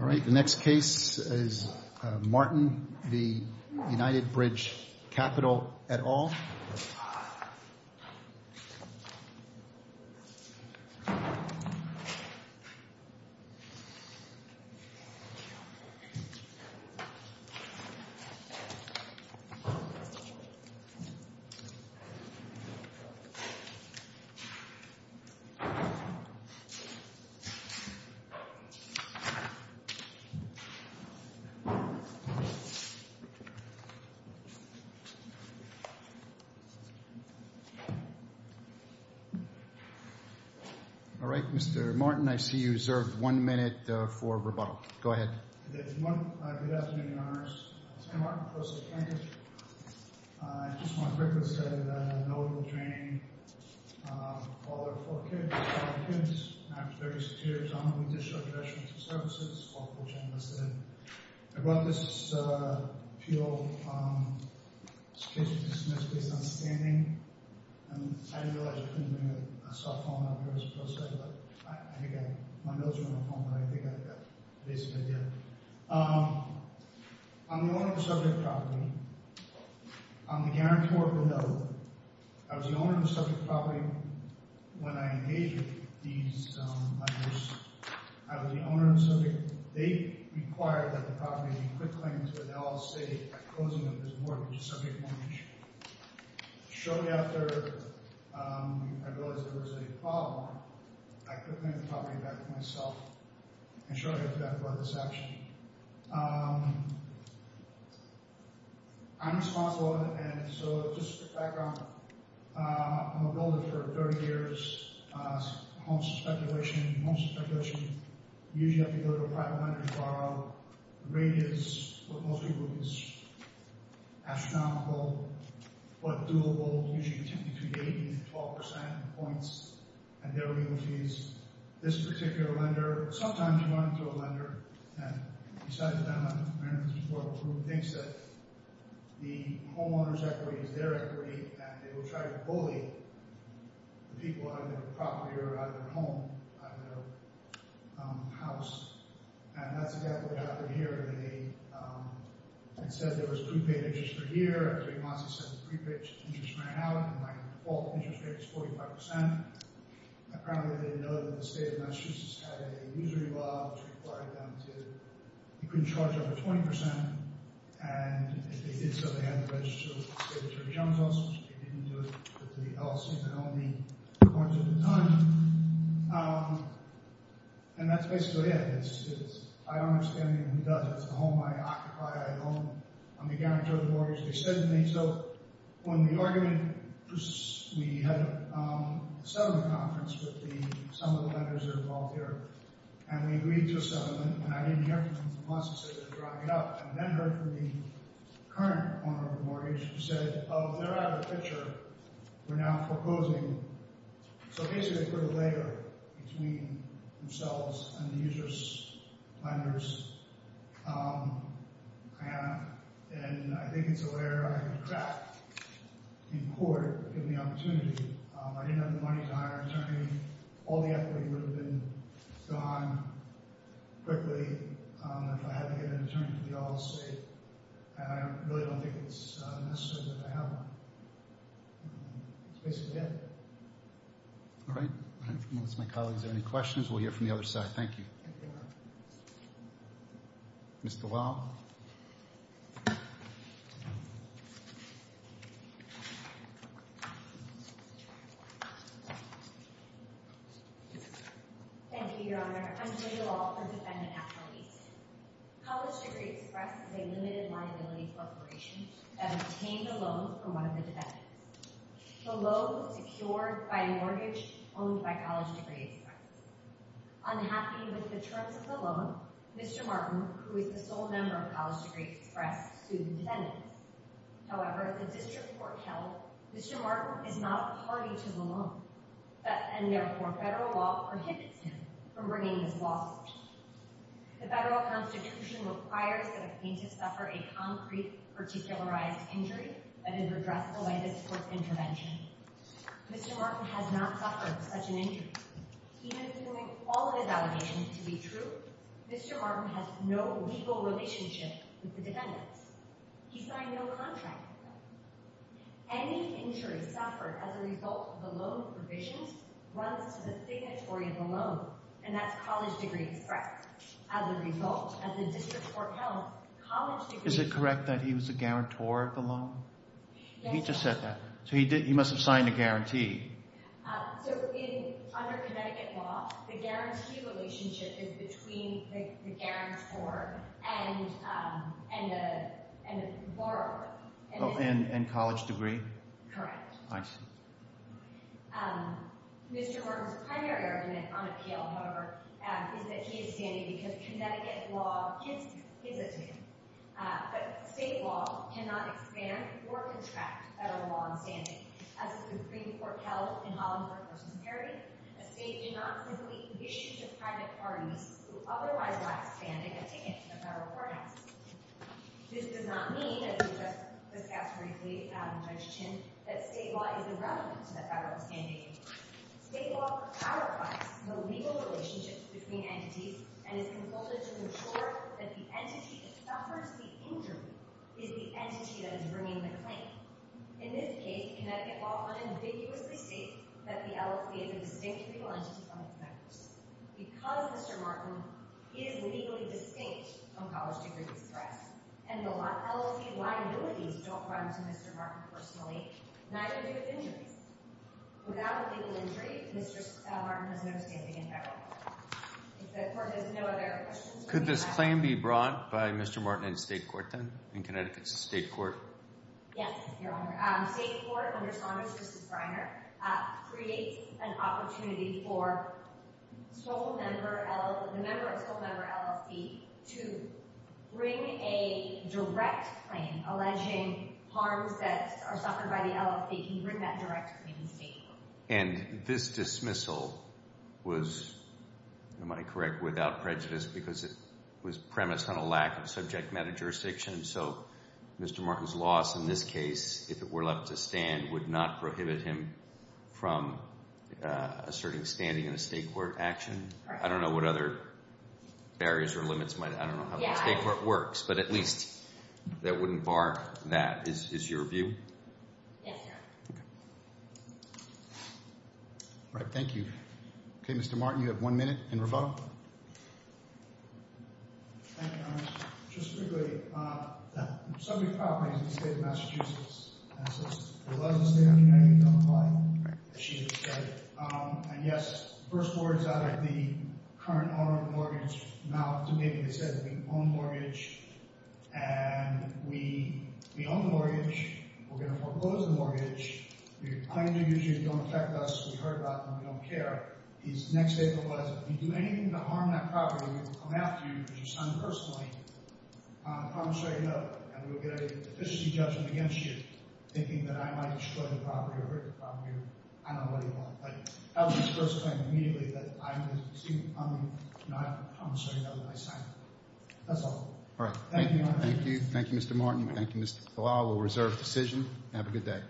All right, the next case is Martin v. United Bridge Capital, et al. All right, Mr. Martin, I see you reserved one minute for rebuttal. Go ahead. Good afternoon, Your Honors. I'm Martin, Pro Secantus. I just want to quickly say that I had notable training while there were four kids, five kids. After 36 years, I'm going to be discharging veterans for services. It's a lawful channel, as I said. I brought this appeal to be dismissed based on standing. And I didn't realize I couldn't bring a cell phone up here as a Pro Secantus. I think my notes are on the phone, but I think I basically did it. I'm the owner of the subject property. I'm the guarantor of the note. I was the owner of the subject property when I engaged with these lenders. I was the owner of the subject. They required that the property be quit claims with LL State at the closing of this mortgage, a subject mortgage. Shortly after I realized there was a problem, I quit claiming the property back to myself. And shortly after that, I brought this action. I'm responsible, and so just a quick background. I'm a builder for 30 years. Home speculation, home speculation. Usually, I have to go to a private lender to borrow. The rate is what most people think is astronomical, but doable. Usually, between 80 and 12 percent in points and their real fees. This particular lender, sometimes you run into a lender, and besides them, I remember this before, who thinks that the homeowner's equity is their equity, and they will try to bully the people out of their property or out of their home, out of their house. And that's exactly what happened here. It said there was prepaid interest per year. It said the prepaid interest ran out, and my default interest rate is 45 percent. Apparently, they didn't know that the state of Massachusetts had a usury law, which required them to, you couldn't charge over 20 percent. And if they did so, they had to register with the state attorney general's office. They didn't do it with the LL State, but only in points at the time. And that's basically it. I don't understand anyone who does it. It's a home I occupy. I own. I'm the guarantor of the mortgage. They said to me, so on the argument, we had a settlement conference with some of the lenders that are involved here, and we agreed to a settlement, and I didn't hear from them for months. They said they were drawing it up. And then heard from the current owner of the mortgage, who said, oh, they're out of the picture. We're now proposing. So, basically, they put a layer between themselves and the usury lenders. And I think it's a layer I could crack in court, given the opportunity. I didn't have the money to hire an attorney. All the equity would have been gone quickly if I had to get an attorney for the LL State. And I really don't think it's necessary that I have one. That's basically it. All right. Unless my colleagues have any questions, we'll hear from the other side. Thank you, Your Honor. Mr. Lau. Thank you, Your Honor. I'm Julia Lau, a defendant at release. College Degree Express is a limited liability corporation that obtained a loan from one of the defendants. The loan was secured by a mortgage owned by College Degree Express. Unhappy with the terms of the loan, Mr. Martin, who is the sole member of College Degree Express, sued the defendants. However, the district court held Mr. Martin is not a party to the loan, and therefore federal law prohibits him from bringing this lawsuit. The federal Constitution requires that a plaintiff suffer a concrete particularized injury that is addressed by this court's intervention. Mr. Martin has not suffered such an injury. Even assuming all of his allegations to be true, Mr. Martin has no legal relationship with the defendants. He signed no contract with them. Any injury suffered as a result of the loan provisions runs to the signatory of the loan, and that's College Degree Express. As a result, as the district court held, College Degree Express... Is it correct that he was the guarantor of the loan? Yes. He just said that. So he must have signed a guarantee. So under Connecticut law, the guarantee relationship is between the guarantor and the borrower. Oh, and College Degree? Correct. I see. Mr. Martin's primary argument on appeal, however, is that he is standing because Connecticut law gives it to him. But state law cannot expand or contract federal law on standing. As the district court held in Holland v. Perry, a state cannot simply issue to private parties who otherwise lack standing a ticket to the federal courthouse. This does not mean, as we discussed briefly, Adam Judge Chin, that state law is irrelevant to the federal standing. State law clarifies the legal relationships between entities and is consulted to ensure that the entity that suffers the injury is the entity that is bringing the claim. In this case, Connecticut law unambiguously states that the LFA is a distinct legal entity from its members. Because Mr. Martin is legally distinct from College Degree Express, and the LFA liabilities don't run to Mr. Martin personally, neither do his injuries. Without a legal injury, Mr. Martin has no standing in federal court. If the court has no other questions, we will move on. Could this claim be brought by Mr. Martin in state court then, in Connecticut's state court? Yes, Your Honor. State court, under Saunders v. Greiner, creates an opportunity for the member of school member LFD to bring a direct claim alleging harms that are suffered by the LFD. Can you bring that direct claim in state court? And this dismissal was, am I correct, without prejudice because it was premised on a lack of subject matter jurisdiction? So Mr. Martin's loss in this case, if it were left to stand, would not prohibit him from asserting standing in a state court action? I don't know what other barriers or limits might – I don't know how the state court works, but at least that wouldn't bar that. Is your view? Yes, Your Honor. Okay. All right, thank you. Okay, Mr. Martin, you have one minute and rebuttal. Thank you, Your Honor. Just quickly, the subject property is the state of Massachusetts. And so it's the legacy of the United States of America, as she just said. And yes, the first words out of the current owner of the mortgage mouth to me, they said, we own the mortgage. And we own the mortgage. We're going to foreclose the mortgage. Your claim to duty don't affect us. We've heard that, and we don't care. His next statement was, if you do anything to harm that property, we will come after you because you signed the first claim on the commissary note. And we will get an official judgment against you, thinking that I might destroy the property or hurt the property. I don't know what he thought. But that was his first claim immediately, that I was – excuse me, on the commissary note that I signed. That's all. All right. Thank you, Your Honor. Thank you. Thank you, Mr. Martin. Thank you, Mr. Palau. We'll reserve the decision. Have a good day.